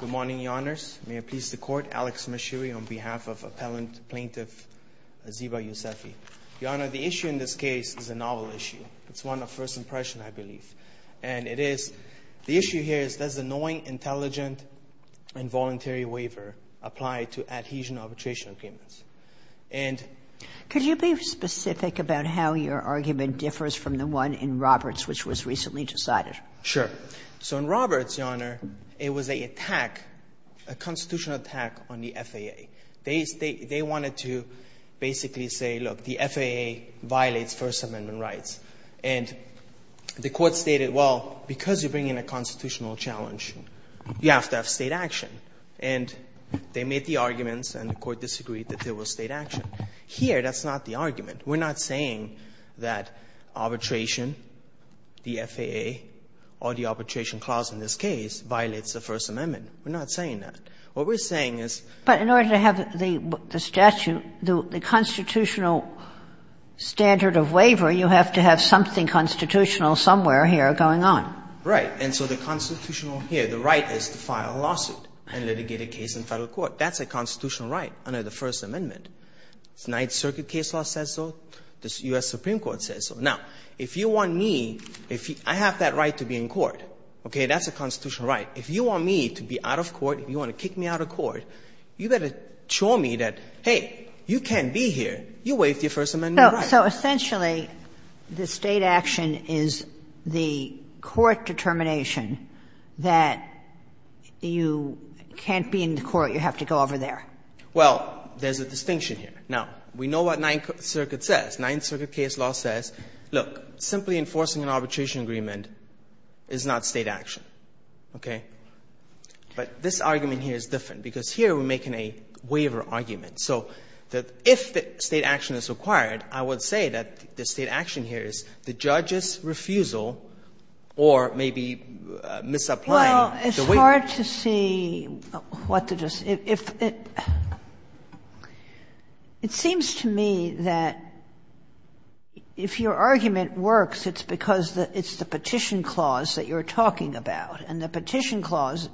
Good morning, Your Honors. May it please the Court, Alex Mashiri on behalf of Appellant Plaintiff Ziba Youssofi. Your Honor, the issue in this case is a novel issue. It's one of first impression, I believe, and it is the issue here is does the knowing, intelligent, and voluntary waiver apply to adhesion arbitration agreements? And could you be specific about how your argument differs from the one in Roberts which was recently decided? Sure. So in Roberts, Your Honor, what they did was they attack, a constitutional attack on the FAA. They wanted to basically say, look, the FAA violates First Amendment rights. And the Court stated, well, because you bring in a constitutional challenge, you have to have state action. And they made the arguments and the Court disagreed that there was state action. Here, that's not the argument. We're not saying that arbitration, the FAA, or the arbitration clause in this case, violates the First Amendment. We're not saying that. What we're saying is the statute, the constitutional standard of waiver, you have to have something constitutional somewhere here going on. Right. And so the constitutional here, the right is to file a lawsuit and litigate a case in Federal court. That's a constitutional right under the First Amendment. The Ninth Circuit case law says so. The U.S. Supreme Court says so. Now, if you want me, if I have that right to be in court, okay, that's a constitutional right. If you want me to be out of court, if you want to kick me out of court, you better show me that, hey, you can't be here. You waived your First Amendment rights. So essentially, the state action is the court determination that you can't be in the court. You have to go over there. Well, there's a distinction here. Now, we know what Ninth Circuit says. Ninth Circuit case law says, look, simply enforcing an arbitration agreement is not state action, okay? But this argument here is different, because here we're making a waiver argument. So if the state action is required, I would say that the state action here is the judge's refusal or maybe misapplying the waiver. Well, it's hard to see what the just — if — it seems to me that if your argument works, it's because it's the petition clause that you're talking about. And the petition clause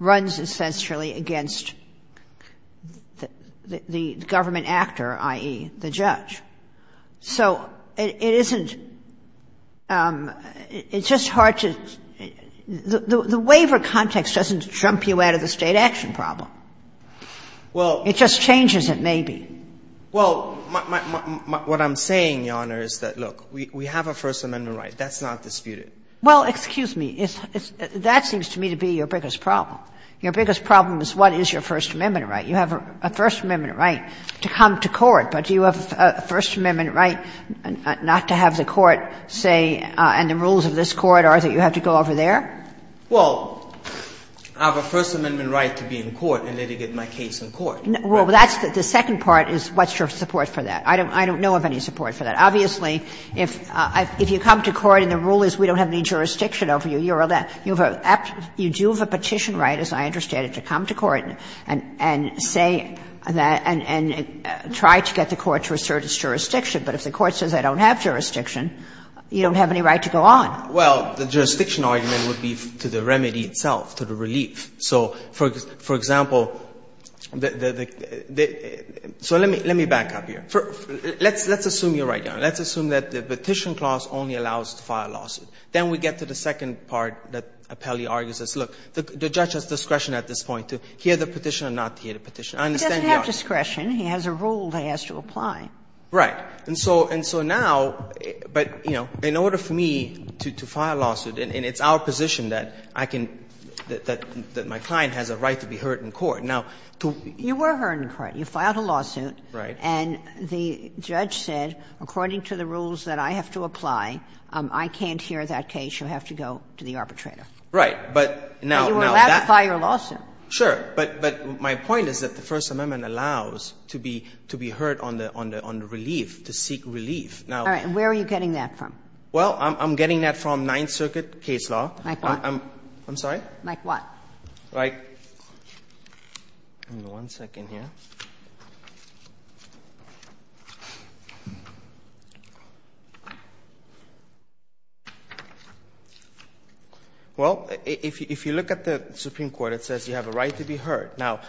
runs essentially against the government actor, i.e., the judge. So it isn't — it's just hard to — the waiver context doesn't jump you out of the state action Well, what I'm saying, Your Honor, is that, look, we have a First Amendment right. That's not disputed. Well, excuse me. That seems to me to be your biggest problem. Your biggest problem is what is your First Amendment right. You have a First Amendment right to come to court, but do you have a First Amendment right not to have the court say, and the rules of this court are that you have to go over there? Well, I have a First Amendment right to be in court and litigate my case in court. Well, that's the second part is what's your support for that. I don't know of any support for that. Obviously, if you come to court and the rule is we don't have any jurisdiction over you, you're allowed — you do have a petition right, as I understand it, to come to court and say that — and try to get the court to assert its jurisdiction. But if the court says I don't have jurisdiction, you don't have any right to go on. Well, the jurisdiction argument would be to the remedy itself, to the relief. So for example, the — so let me back up here. Let's assume you're right, Your Honor. Let's assume that the petition clause only allows to file a lawsuit. Then we get to the second part that Appellee argues is, look, the judge has discretion at this point to hear the petition or not to hear the petition. I understand the argument. He doesn't have discretion. He has a rule that he has to apply. Right. And so now — but, you know, in order for me to file a lawsuit, and it's our position that I can — that my client has a right to be heard in court. Now, to — You were heard in court. You filed a lawsuit. Right. And the judge said, according to the rules that I have to apply, I can't hear that case. You'll have to go to the arbitrator. Right. But now — And you were allowed to file your lawsuit. Sure. But my point is that the First Amendment allows to be heard on the relief, to seek relief. Now — All right. Where are you getting that from? Well, I'm getting that from Ninth Circuit case law. Like what? I'm sorry? Like what? Like — give me one second here. Well, if you look at the Supreme Court, it says you have a right to be heard. Now,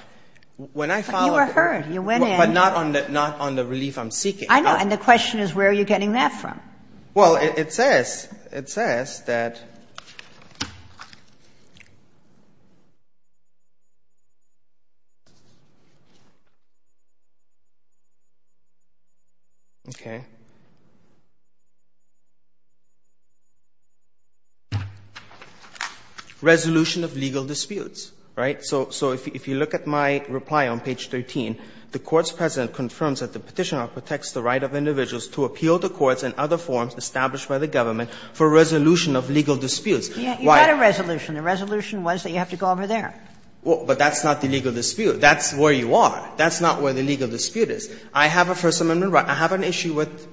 when I file a — But you were heard. You went in. But not on the relief I'm seeking. I know. And the question is, where are you getting that from? Well, it says — it says that — okay. Resolution of legal disputes. Right. So if you look at my reply on page 13, the court's president confirms that the Petitioner protects the right of individuals to appeal to courts and other forms established by the government for resolution of legal disputes. You got a resolution. The resolution was that you have to go over there. Well, but that's not the legal dispute. That's where you are. That's not where the legal dispute is. I have a First Amendment right. I have an issue with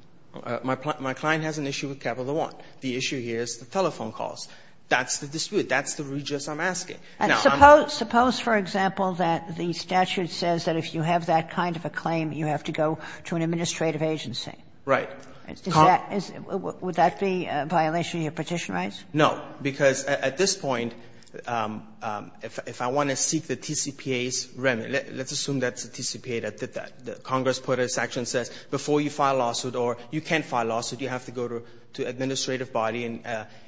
— my client has an issue with Capital One. The issue here is the telephone calls. That's the dispute. That's the regis I'm asking. Now, I'm — Suppose, for example, that the statute says that if you have that kind of a claim, you have to go to an administrative agency. Right. Would that be a violation of your petition rights? No, because at this point, if I want to seek the TCPA's remedy — let's assume that's a TCPA that Congress put a section that says before you file a lawsuit or you can't file a lawsuit, you have to go to an administrative body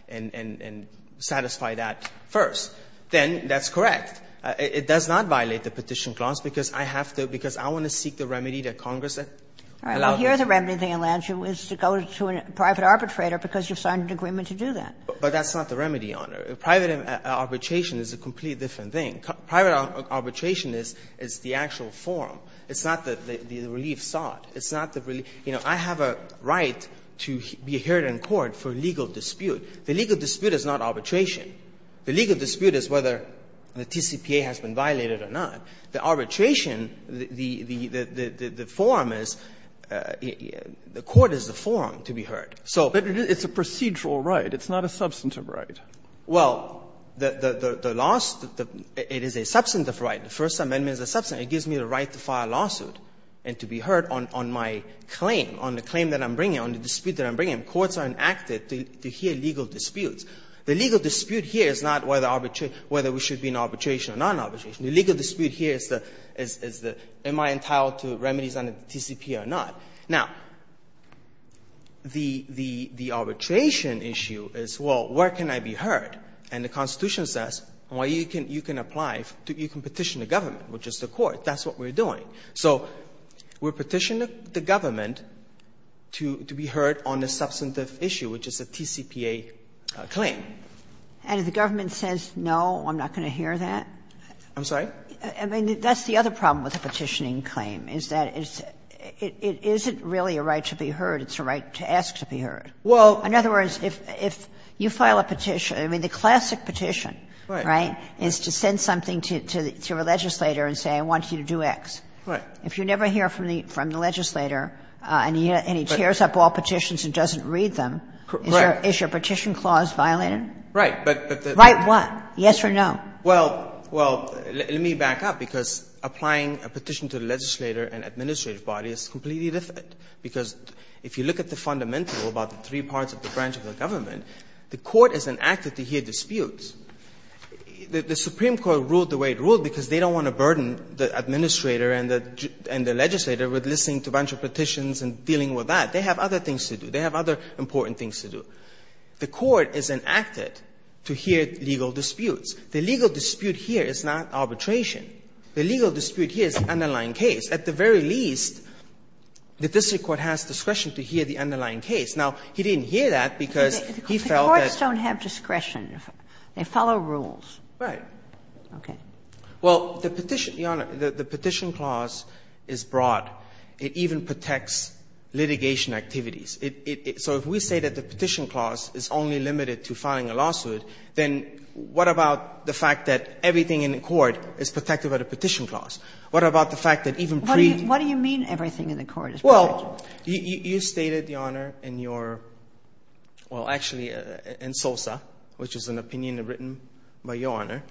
and satisfy that first, then that's correct. It does not violate the petition clause, because I have to — because I want to seek the remedy that Congress allowed. All right. Well, here the remedy, Mr. Alanchie, is to go to a private arbitrator because you've signed an agreement to do that. But that's not the remedy, Your Honor. Private arbitration is a completely different thing. Private arbitration is the actual form. It's not the relief sought. It's not the relief — you know, I have a right to be heard in court for legal dispute. The legal dispute is not arbitration. The legal dispute is whether the TCPA has been violated or not. The arbitration, the form is — the court is the form to be heard. So — But it's a procedural right. It's not a substantive right. Well, the last — it is a substantive right. The First Amendment is a substantive. It gives me the right to file a lawsuit and to be heard on my claim, on the claim that I'm bringing, on the dispute that I'm bringing. Courts are enacted to hear legal disputes. The legal dispute here is not whether we should be in arbitration or non-arbitration. The legal dispute here is the — am I entitled to remedies under the TCPA or not? Now, the arbitration issue is, well, where can I be heard? And the Constitution says, well, you can apply — you can petition the government, which is the court. That's what we're doing. So we're petitioning the government to be heard on the substantive issue, which is a petitioning claim. And if the government says, no, I'm not going to hear that? I'm sorry? I mean, that's the other problem with a petitioning claim, is that it's — it isn't really a right to be heard. It's a right to ask to be heard. Well — In other words, if — if you file a petition — I mean, the classic petition — Right. Right? — is to send something to — to a legislator and say, I want you to do X. Right. If you never hear from the — from the legislator, and he tears up all petitions and doesn't read them, is your — is your petition clause violated? Right. But the — Right what? Yes or no? Well — well, let me back up, because applying a petition to a legislator and administrative body is completely different, because if you look at the fundamental about the three parts of the branch of the government, the court is enacted to hear disputes. The Supreme Court ruled the way it ruled because they don't want to burden the administrator and the — and the legislator with listening to a bunch of petitions and dealing with that. They have other things to do. They have other important things to do. The court is enacted to hear legal disputes. The legal dispute here is not arbitration. The legal dispute here is an underlying case. At the very least, the district court has discretion to hear the underlying case. Now, he didn't hear that because he felt that — The courts don't have discretion. They follow rules. Right. Okay. Well, the petition, Your Honor, the petition clause is broad. It even protects litigation activities. So if we say that the petition clause is only limited to filing a lawsuit, then what about the fact that everything in the court is protected by the petition clause? What about the fact that even pre- What do you mean, everything in the court is protected? Well, you stated, Your Honor, in your — well, actually, in SOSA, which is an opinion written by Your Honor,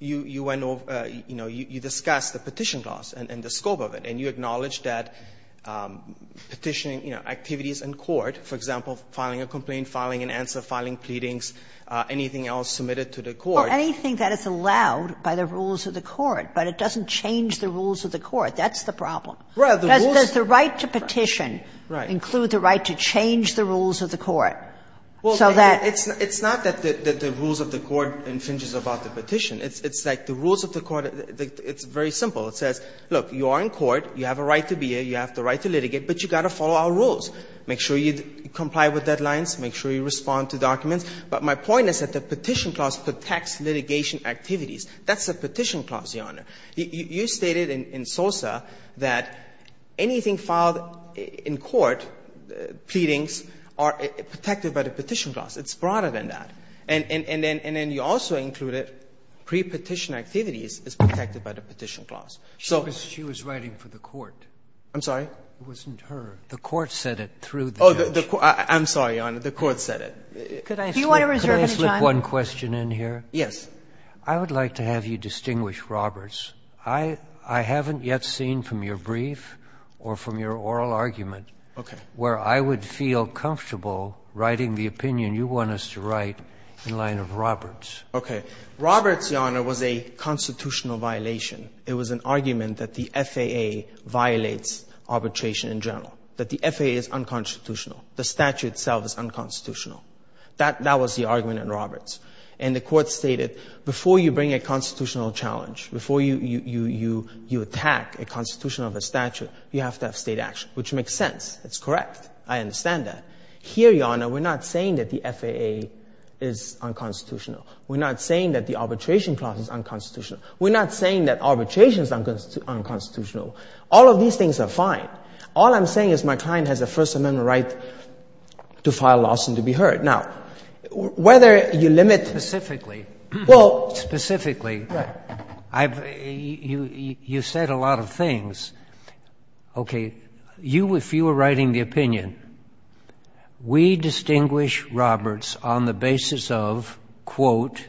you went over — you know, you discussed the petition clause and the scope of it. And you acknowledged that petitioning, you know, activities in court, for example, filing a complaint, filing an answer, filing pleadings, anything else submitted to the court. Well, anything that is allowed by the rules of the court, but it doesn't change the rules of the court. That's the problem. Well, the rules — Does the right to petition include the right to change the rules of the court so that It's not that the rules of the court infringes about the petition. It's like the rules of the court, it's very simple. It says, look, you are in court, you have a right to be here, you have the right to litigate, but you've got to follow our rules. Make sure you comply with deadlines, make sure you respond to documents. But my point is that the petition clause protects litigation activities. That's the petition clause, Your Honor. You stated in SOSA that anything filed in court, pleadings, are protected by the petition clause. It's broader than that. And then you also included pre-petition activities is protected by the petition clause. So — She was writing for the court. I'm sorry? It wasn't her. The court said it through the petition. Oh, I'm sorry, Your Honor. The court said it. Could I slip one question in here? Yes. I would like to have you distinguish Roberts. I haven't yet seen from your brief or from your oral argument where I would feel comfortable writing the opinion you want us to write in line of Roberts. Okay. Roberts, Your Honor, was a constitutional violation. It was an argument that the FAA violates arbitration in general, that the FAA is unconstitutional. The statute itself is unconstitutional. That was the argument in Roberts. And the court stated, before you bring a constitutional challenge, before you attack a constitution of a statute, you have to have state action, which makes sense. It's correct. I understand that. Here, Your Honor, we're not saying that the FAA is unconstitutional. We're not saying that the arbitration clause is unconstitutional. We're not saying that arbitration is unconstitutional. All of these things are fine. All I'm saying is my client has a First Amendment right to file a lawsuit and to be heard. Now, whether you limit... Specifically. Well... Specifically. Right. You said a lot of things. Okay. If you were writing the opinion, we distinguish Roberts on the basis of, quote...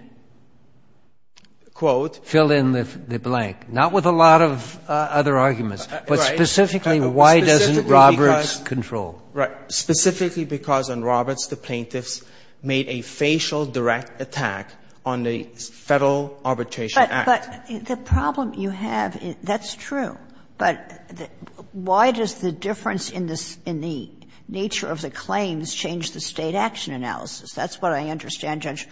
Quote? Fill in the blank. Not with a lot of other arguments. Right. But specifically, why doesn't Roberts control? Right. Specifically because on Roberts, the plaintiffs made a facial direct attack on the Federal Arbitration Act. But the problem you have, that's true. But why does the difference in the nature of the claims change the state action analysis? That's what I understand Judge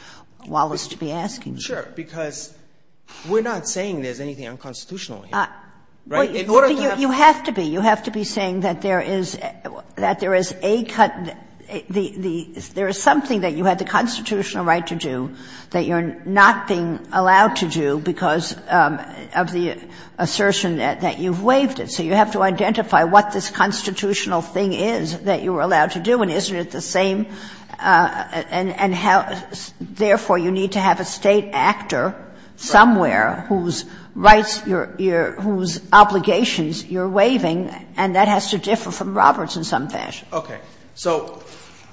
Wallace to be asking. Sure. Because we're not saying there's anything unconstitutional here. Right? In order to have... You have to be. You have to be saying that there is a cut, there is something that you had the constitutional right to do that you're not being allowed to do because of the assertion that you've waived it. So you have to identify what this constitutional thing is that you were allowed to do. And isn't it the same? And therefore, you need to have a state actor somewhere whose rights you're — whose obligations you're waiving, and that has to differ from Roberts in some fashion. Okay. So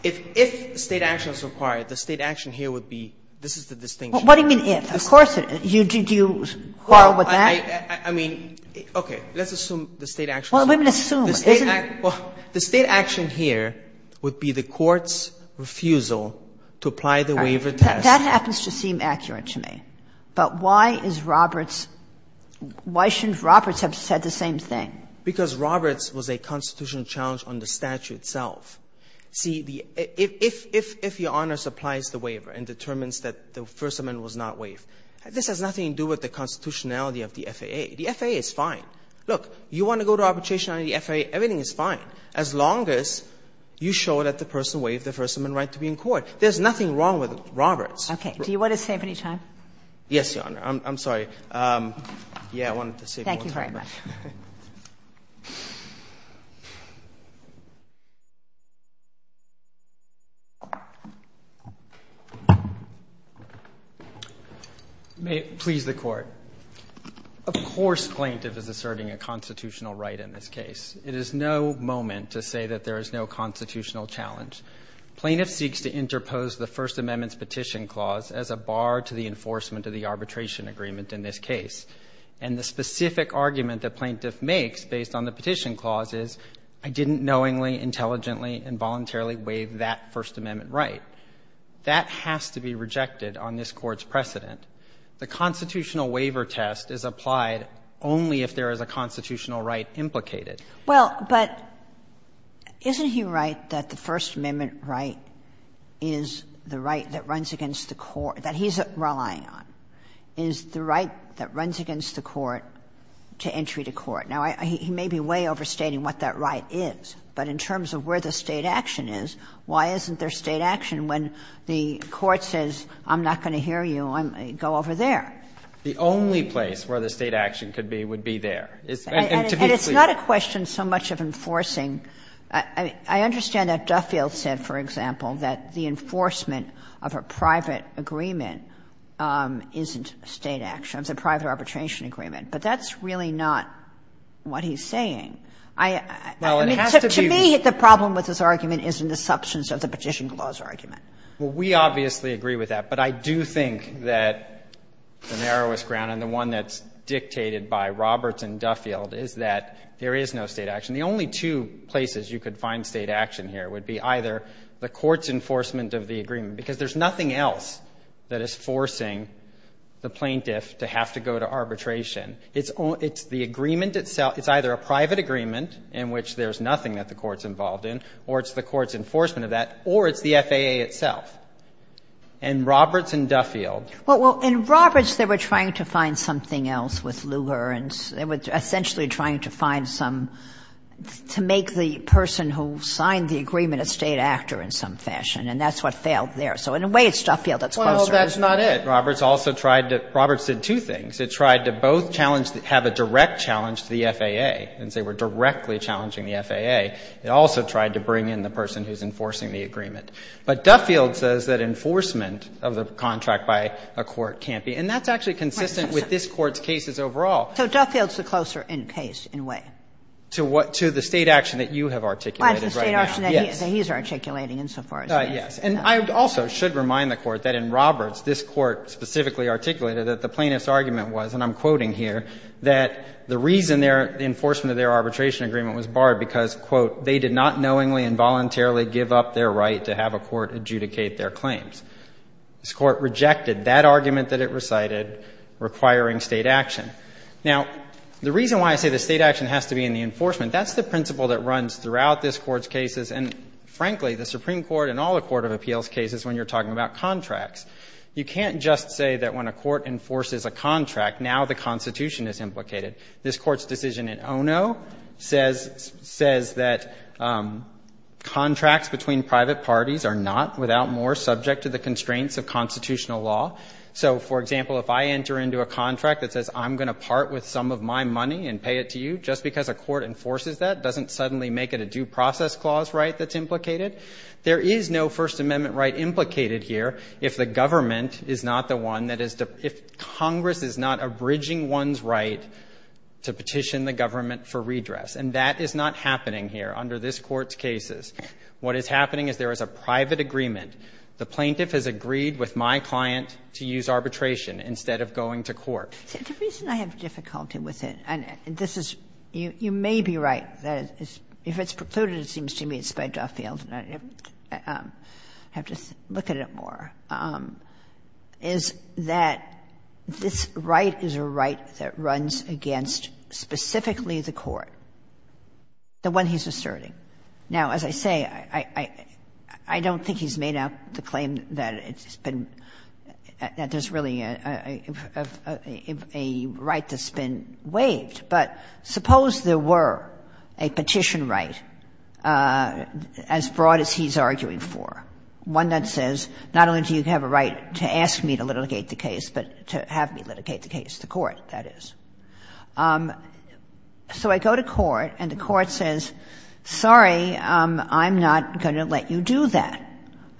if state action is required, the state action here would be — this is the distinction. What do you mean, if? Of course it is. Do you quarrel with that? I mean — okay. Let's assume the state action is required. Well, let me assume. Well, the state action here would be the court's refusal to apply the waiver test. That happens to seem accurate to me. But why is Roberts — why shouldn't Roberts have said the same thing? Because Roberts was a constitutional challenge on the statute itself. See, the — if your Honor supplies the waiver and determines that the First Amendment was not waived, this has nothing to do with the constitutionality of the FAA. The FAA is fine. Look, you want to go to arbitration on the FAA, everything is fine, as long as you show that the person waived the First Amendment right to be in court. There's nothing wrong with Roberts. Okay. Do you want to save any time? Yes, Your Honor. Yeah, I wanted to save more time. Thank you very much. May it please the Court. Of course plaintiff is asserting a constitutional right in this case. It is no moment to say that there is no constitutional challenge. Plaintiff seeks to interpose the First Amendment's petition clause as a bar to the enforcement of the arbitration agreement in this case. And the specific argument that plaintiff makes based on the petition clause is, I didn't knowingly, intelligently, involuntarily waive that First Amendment right. That has to be rejected on this Court's precedent. The constitutional waiver test is applied only if there is a constitutional right implicated. Well, but isn't he right that the First Amendment right is the right that runs against the court, that he's relying on, is the right that runs against the court to entry to court? Now, he may be way overstating what that right is, but in terms of where the State action is, why isn't there State action when the Court says, I'm not going to hear you, I'm going to go over there? The only place where the State action could be would be there. And to be clear. And it's not a question so much of enforcing. I understand that Duffield said, for example, that the enforcement of a private agreement isn't State action, it's a private arbitration agreement. But that's really not what he's saying. I mean, to me, the problem with this argument is in the substance of the petition clause argument. Well, we obviously agree with that. But I do think that the narrowest ground and the one that's dictated by Roberts and Duffield is that there is no State action. The only two places you could find State action here would be either the court's enforcement of the agreement, because there's nothing else that is forcing the plaintiff to have to go to arbitration. It's the agreement itself. It's either a private agreement in which there's nothing that the court's involved in, or it's the court's enforcement of that, or it's the FAA itself. And Roberts and Duffield. Well, in Roberts, they were trying to find something else with Lugar, and they were essentially trying to find some to make the person who signed the agreement a State actor in some fashion, and that's what failed there. So in a way, it's Duffield that's closer. Well, that's not it. Roberts also tried to – Roberts did two things. It tried to both challenge – have a direct challenge to the FAA, since they were directly challenging the FAA. It also tried to bring in the person who's enforcing the agreement. But Duffield says that enforcement of the contract by a court can't be. And that's actually consistent with this Court's cases overall. So Duffield's the closer in case, in a way. To what? To the State action that you have articulated right now. That's the State action that he's articulating insofar as that. Yes. And I also should remind the Court that in Roberts, this Court specifically articulated that the plaintiff's argument was, and I'm quoting here, that the reason their – the enforcement of their arbitration agreement was barred because, quote, they did not knowingly and voluntarily give up their right to have a court adjudicate their claims. This Court rejected that argument that it recited, requiring State action. Now, the reason why I say the State action has to be in the enforcement, that's the principle that runs throughout this Court's cases and, frankly, the Supreme Court and all the court of appeals cases when you're talking about contracts. You can't just say that when a court enforces a contract, now the Constitution is implicated. This Court's decision in Ono says that contracts between private parties are not, without more, subject to the constraints of constitutional law. So, for example, if I enter into a contract that says I'm going to part with some of my money and pay it to you, just because a court enforces that doesn't suddenly make it a due process clause right that's implicated. There is no First Amendment right implicated here if the government is not the one that is, if Congress is not abridging one's right to petition the government for redress, and that is not happening here under this Court's cases. What is happening is there is a private agreement. The plaintiff has agreed with my client to use arbitration instead of going to court. The reason I have difficulty with it, and this is, you may be right, that if it's precluded, it seems to me it's by Duffield, and I have to look at it more, is that this right is a right that runs against specifically the court, the one he's asserting. Now, as I say, I don't think he's made up the claim that it's been, that there's really a right that's been waived. But suppose there were a petition right as broad as he's arguing for, one that says not only do you have a right to ask me to litigate the case, but to have me litigate the case, the court, that is. So I go to court, and the court says, sorry, I'm not going to let you do that.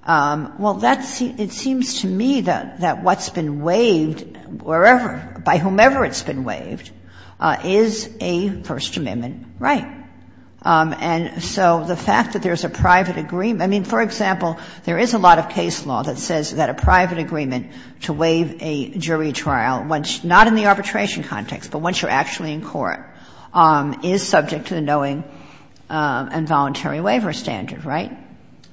Well, that's, it seems to me that what's been waived, wherever, by whomever it's been waived, is a First Amendment right. And so the fact that there's a private agreement, I mean, for example, there is a lot of case law that says that a private agreement to waive a jury trial, not in the arbitration context, but once you're actually in court, is subject to the knowing and voluntary waiver standard, right?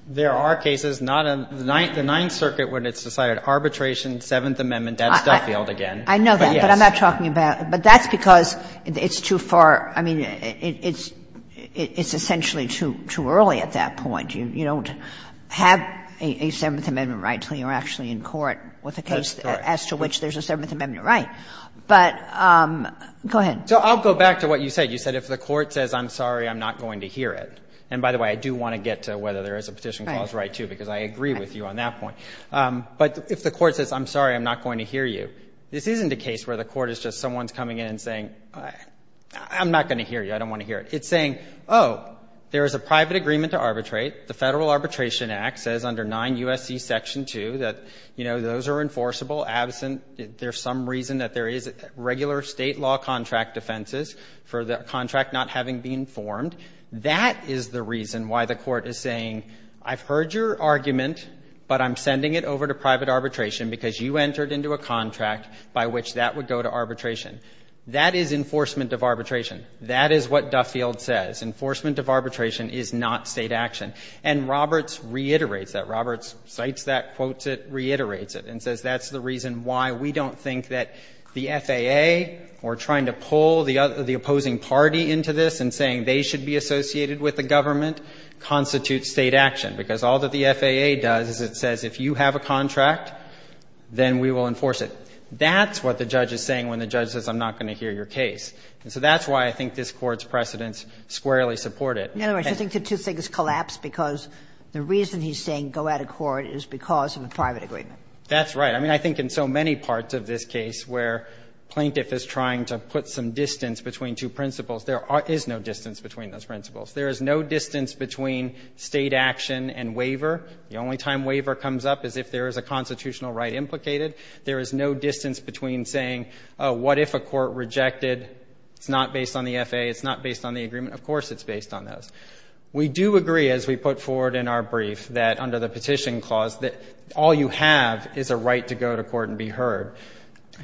There are cases, not in the Ninth Circuit when it's decided, arbitration, Seventh Amendment, that's Duffield again. I know that, but I'm not talking about, but that's because it's too far, I mean, it's essentially too early at that point. You don't have a Seventh Amendment right until you're actually in court with a case as to which there's a Seventh Amendment right. But go ahead. So I'll go back to what you said. You said if the court says, I'm sorry, I'm not going to hear it. And by the way, I do want to get to whether there is a Petition Clause right, too, because I agree with you on that point. But if the court says, I'm sorry, I'm not going to hear you, this isn't a case where the court is just someone's coming in and saying, I'm not going to hear you, I don't want to hear it. It's saying, oh, there is a private agreement to arbitrate. The Federal Arbitration Act says under 9 U.S.C. Section 2 that, you know, those are enforceable, absent. There's some reason that there is regular state law contract defenses for the contract not having been formed. That is the reason why the court is saying, I've heard your argument, but I'm sending it over to private arbitration because you entered into a contract by which that would go to arbitration. That is enforcement of arbitration. That is what Duffield says. Enforcement of arbitration is not state action. And Roberts reiterates that. Roberts cites that, quotes it, reiterates it, and says that's the reason why we don't think that the FAA, or trying to pull the opposing party into this and saying they should be associated with the government, constitutes state action. Because all that the FAA does is it says, if you have a contract, then we will enforce it. That's what the judge is saying when the judge says, I'm not going to hear your case. And so that's why I think this Court's precedents squarely support it. And I think the two things collapse because the reason he's saying go out of court is because of a private agreement. That's right. I mean, I think in so many parts of this case where plaintiff is trying to put some distance between two principles, there is no distance between those principles. There is no distance between state action and waiver. The only time waiver comes up is if there is a constitutional right implicated. There is no distance between saying, oh, what if a court rejected? It's not based on the FAA. It's not based on the agreement. Of course it's based on those. We do agree, as we put forward in our brief, that under the Petition Clause that all you have is a right to go to court and be heard.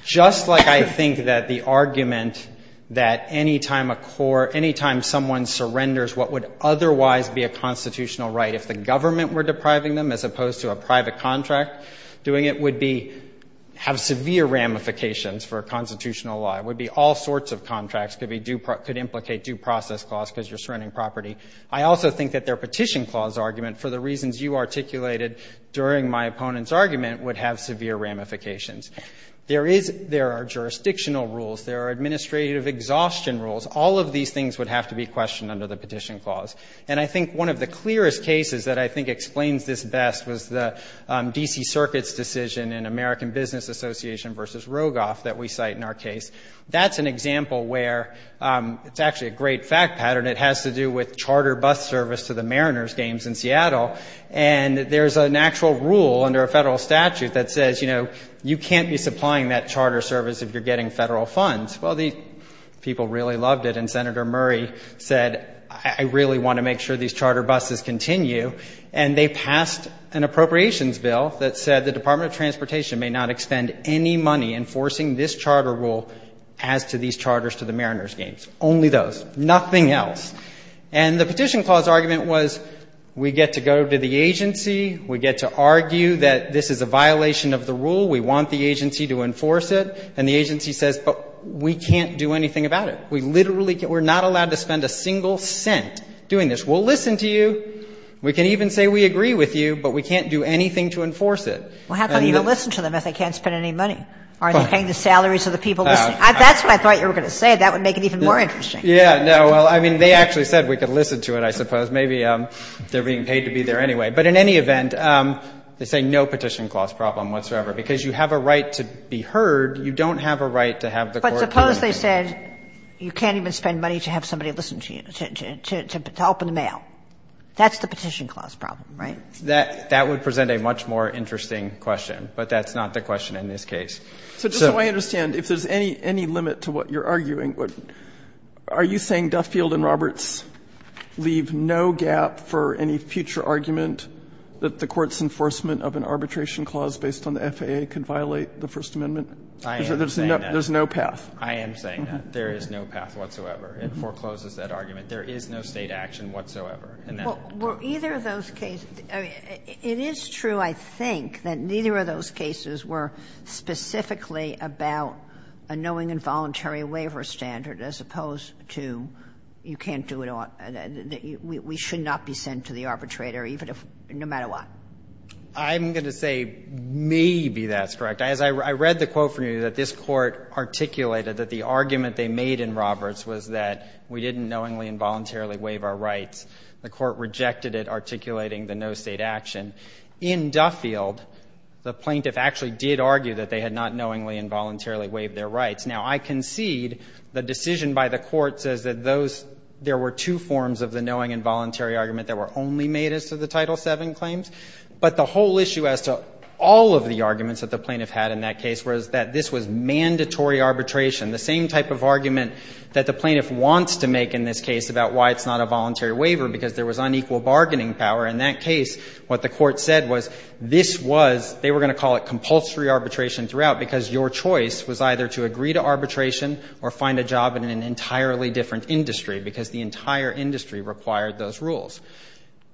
Just like I think that the argument that any time a court, any time someone surrenders what would otherwise be a constitutional right, if the government were depriving them as opposed to a private contract, doing it would be have severe ramifications for a constitutional law. It would be all sorts of contracts. It could implicate due process clause because you're surrendering property. I also think that their Petition Clause argument, for the reasons you articulated during my opponent's argument, would have severe ramifications. There are jurisdictional rules. There are administrative exhaustion rules. All of these things would have to be questioned under the Petition Clause. And I think one of the clearest cases that I think explains this best was the D.C. Circuit's decision in American Business Association v. Rogoff that we cite in our case. That's an example where it's actually a great fact pattern. It has to do with charter bus service to the Mariners games in Seattle. And there's an actual rule under a federal statute that says, you know, you can't be supplying that charter service if you're getting federal funds. Well, the people really loved it. And Senator Murray said, I really want to make sure these charter buses continue. And they passed an appropriations bill that said the Department of Transportation may not expend any money enforcing this charter rule as to these charters to the Mariners games, only those, nothing else. And the Petition Clause argument was, we get to go to the agency. We get to argue that this is a violation of the rule. We want the agency to enforce it. And the agency says, but we can't do anything about it. We literally can't. We're not allowed to spend a single cent doing this. We'll listen to you. We can even say we agree with you, but we can't do anything to enforce it. And the other thing is, we can't do anything to enforce it. Sotomayor Well, how can you even listen to them if they can't spend any money? Are they paying the salaries of the people listening? That's what I thought you were going to say. That would make it even more interesting. Goldstein Yeah, no. Well, I mean, they actually said we could listen to it, I suppose. Maybe they're being paid to be there anyway. But in any event, they say no Petition Clause problem whatsoever. Because you have a right to be heard. You don't have a right to have the court to enforce it. And they said, you can't even spend money to have somebody listen to you, to open the mail. That's the Petition Clause problem, right? Goldstein That would present a much more interesting question. But that's not the question in this case. So the way I understand, if there's any limit to what you're arguing, are you saying Duffield and Roberts leave no gap for any future argument that the court's enforcement of an arbitration clause based on the FAA could violate the First Amendment? There's no path. I am saying that. There is no path whatsoever. It forecloses that argument. There is no State action whatsoever. And that's the point. Kagan It is true, I think, that neither of those cases were specifically about a knowing involuntary waiver standard, as opposed to you can't do it all. We should not be sent to the arbitrator, even if no matter what. Goldstein I'm going to say maybe that's correct. As I read the quote from you, that this Court articulated that the argument they made in Roberts was that we didn't knowingly and voluntarily waive our rights, the Court rejected it, articulating the no State action. In Duffield, the plaintiff actually did argue that they had not knowingly and voluntarily waived their rights. Now, I concede the decision by the Court says that those there were two forms of the knowing involuntary argument that were only made as to the Title VII claims, but the argument they had in that case was that this was mandatory arbitration, the same type of argument that the plaintiff wants to make in this case about why it's not a voluntary waiver, because there was unequal bargaining power. In that case, what the Court said was this was, they were going to call it compulsory arbitration throughout, because your choice was either to agree to arbitration or find a job in an entirely different industry, because the entire industry required those rules.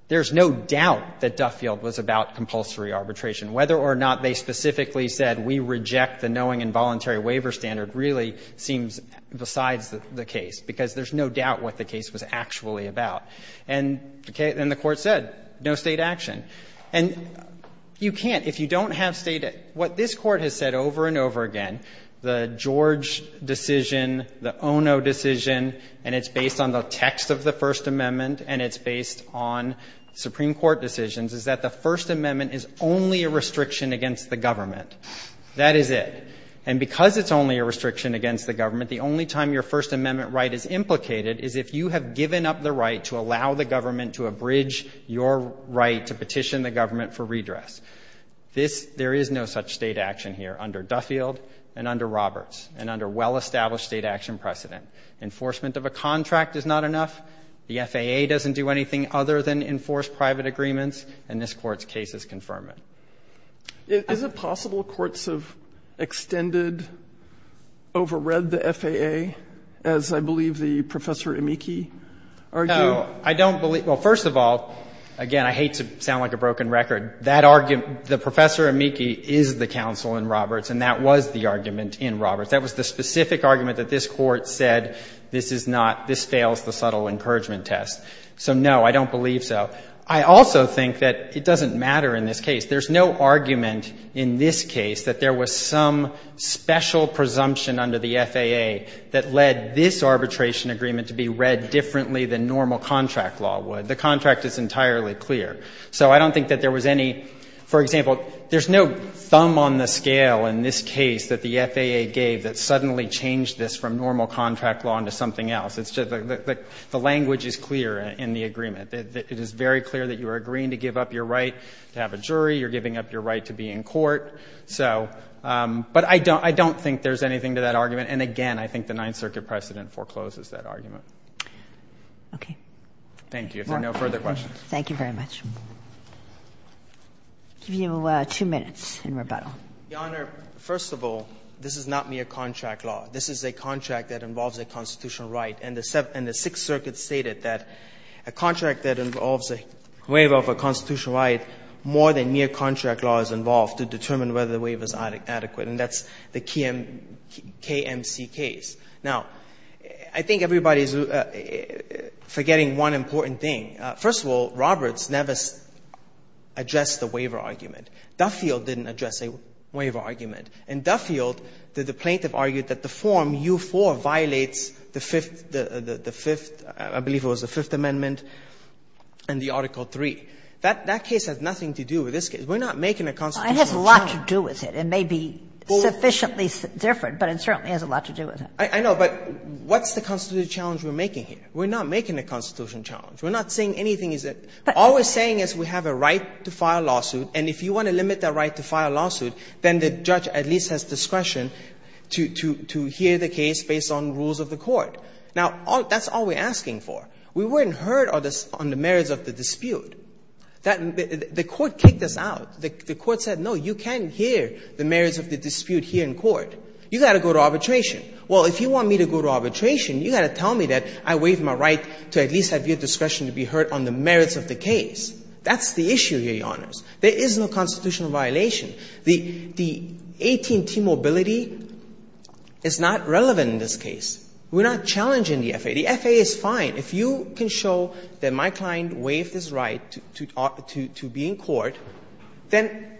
There's no doubt that Duffield was about compulsory arbitration. Whether or not they specifically said we reject the knowing involuntary waiver standard really seems besides the case, because there's no doubt what the case was actually about. And the Court said no State action. And you can't, if you don't have State action. What this Court has said over and over again, the George decision, the Ono decision, and it's based on the text of the First Amendment and it's based on Supreme Court decisions, is that the First Amendment is only a restriction against the government. That is it. And because it's only a restriction against the government, the only time your First Amendment right is implicated is if you have given up the right to allow the government to abridge your right to petition the government for redress. This, there is no such State action here under Duffield and under Roberts and under well-established State action precedent. Enforcement of a contract is not enough. The FAA doesn't do anything other than enforce private agreements, and this Court's case is confirmant. Sotomayor, is it possible courts have extended, overread the FAA, as I believe the Professor Amici argued? No. I don't believe – well, first of all, again, I hate to sound like a broken record. That argument – the Professor Amici is the counsel in Roberts, and that was the argument in Roberts. That was the specific argument that this Court said this is not – this fails the subtle encouragement test. So, no, I don't believe so. I also think that it doesn't matter in this case. There's no argument in this case that there was some special presumption under the FAA that led this arbitration agreement to be read differently than normal contract law would. The contract is entirely clear. So I don't think that there was any – for example, there's no thumb on the scale in this case that the FAA gave that suddenly changed this from normal contract law into something else. It's just that the language is clear in the agreement. It is very clear that you are agreeing to give up your right to have a jury. You're giving up your right to be in court. So – but I don't think there's anything to that argument. And again, I think the Ninth Circuit precedent forecloses that argument. Okay. Thank you. If there are no further questions. Thank you very much. I'll give you two minutes in rebuttal. Your Honor, first of all, this is not mere contract law. This is a contract that involves a constitutional right. And the Sixth Circuit stated that a contract that involves a waiver of a constitutional right, more than mere contract law is involved to determine whether the waiver is adequate, and that's the KMC case. Now, I think everybody is forgetting one important thing. First of all, Roberts never addressed the waiver argument. Duffield didn't address a waiver argument. In Duffield, the plaintiff argued that the form U-4 violates the Fifth – the Fifth – I believe it was the Fifth Amendment and the Article III. That case has nothing to do with this case. We're not making a constitutional challenge. It has a lot to do with it. It may be sufficiently different, but it certainly has a lot to do with it. I know, but what's the constitutional challenge we're making here? We're not making a constitutional challenge. We're not saying anything is that – all we're saying is we have a right to file a case that at least has discretion to hear the case based on rules of the court. Now, that's all we're asking for. We weren't heard on the merits of the dispute. The court kicked us out. The court said, no, you can't hear the merits of the dispute here in court. You've got to go to arbitration. Well, if you want me to go to arbitration, you've got to tell me that I waive my right to at least have your discretion to be heard on the merits of the case. That's the issue here, Your Honors. There is no constitutional violation. The AT&T mobility is not relevant in this case. We're not challenging the FAA. The FAA is fine. If you can show that my client waived his right to be in court, then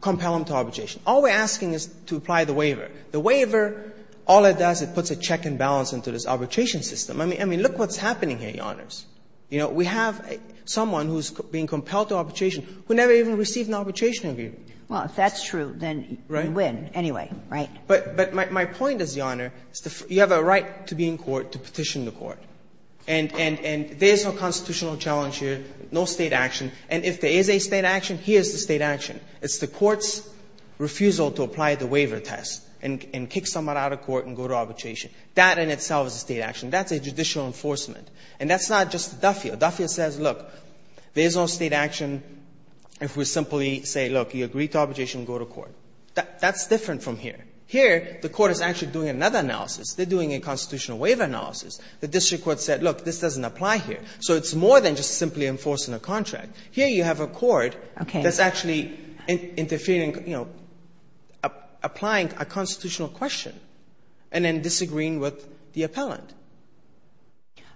compel him to arbitration. All we're asking is to apply the waiver. The waiver, all it does, it puts a check and balance into this arbitration system. I mean, look what's happening here, Your Honors. You know, we have someone who's being compelled to arbitration who never even received an arbitration agreement. Well, if that's true, then you win. Right. Anyway, right. But my point is, Your Honor, you have a right to be in court to petition the court. And there is no constitutional challenge here, no State action. And if there is a State action, here is the State action. It's the court's refusal to apply the waiver test and kick someone out of court and go to arbitration. That in itself is a State action. That's a judicial enforcement. And that's not just Duffield. Duffield says, look, there is no State action if we simply say, look, you agree to arbitration, go to court. That's different from here. Here, the court is actually doing another analysis. They're doing a constitutional waiver analysis. The district court said, look, this doesn't apply here. So it's more than just simply enforcing a contract. Here you have a court that's actually interfering, you know, applying a constitutional question and then disagreeing with the appellant.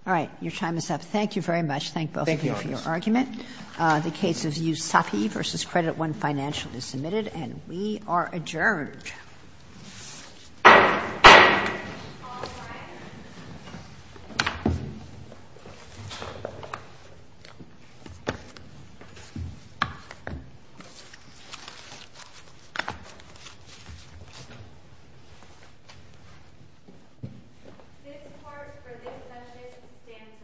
All right. Your time is up. Thank you very much. Thank both of you for your argument. The case of Yousafi v. Credit I Financial is submitted, and we are adjourned. The court for this session stands adjourned.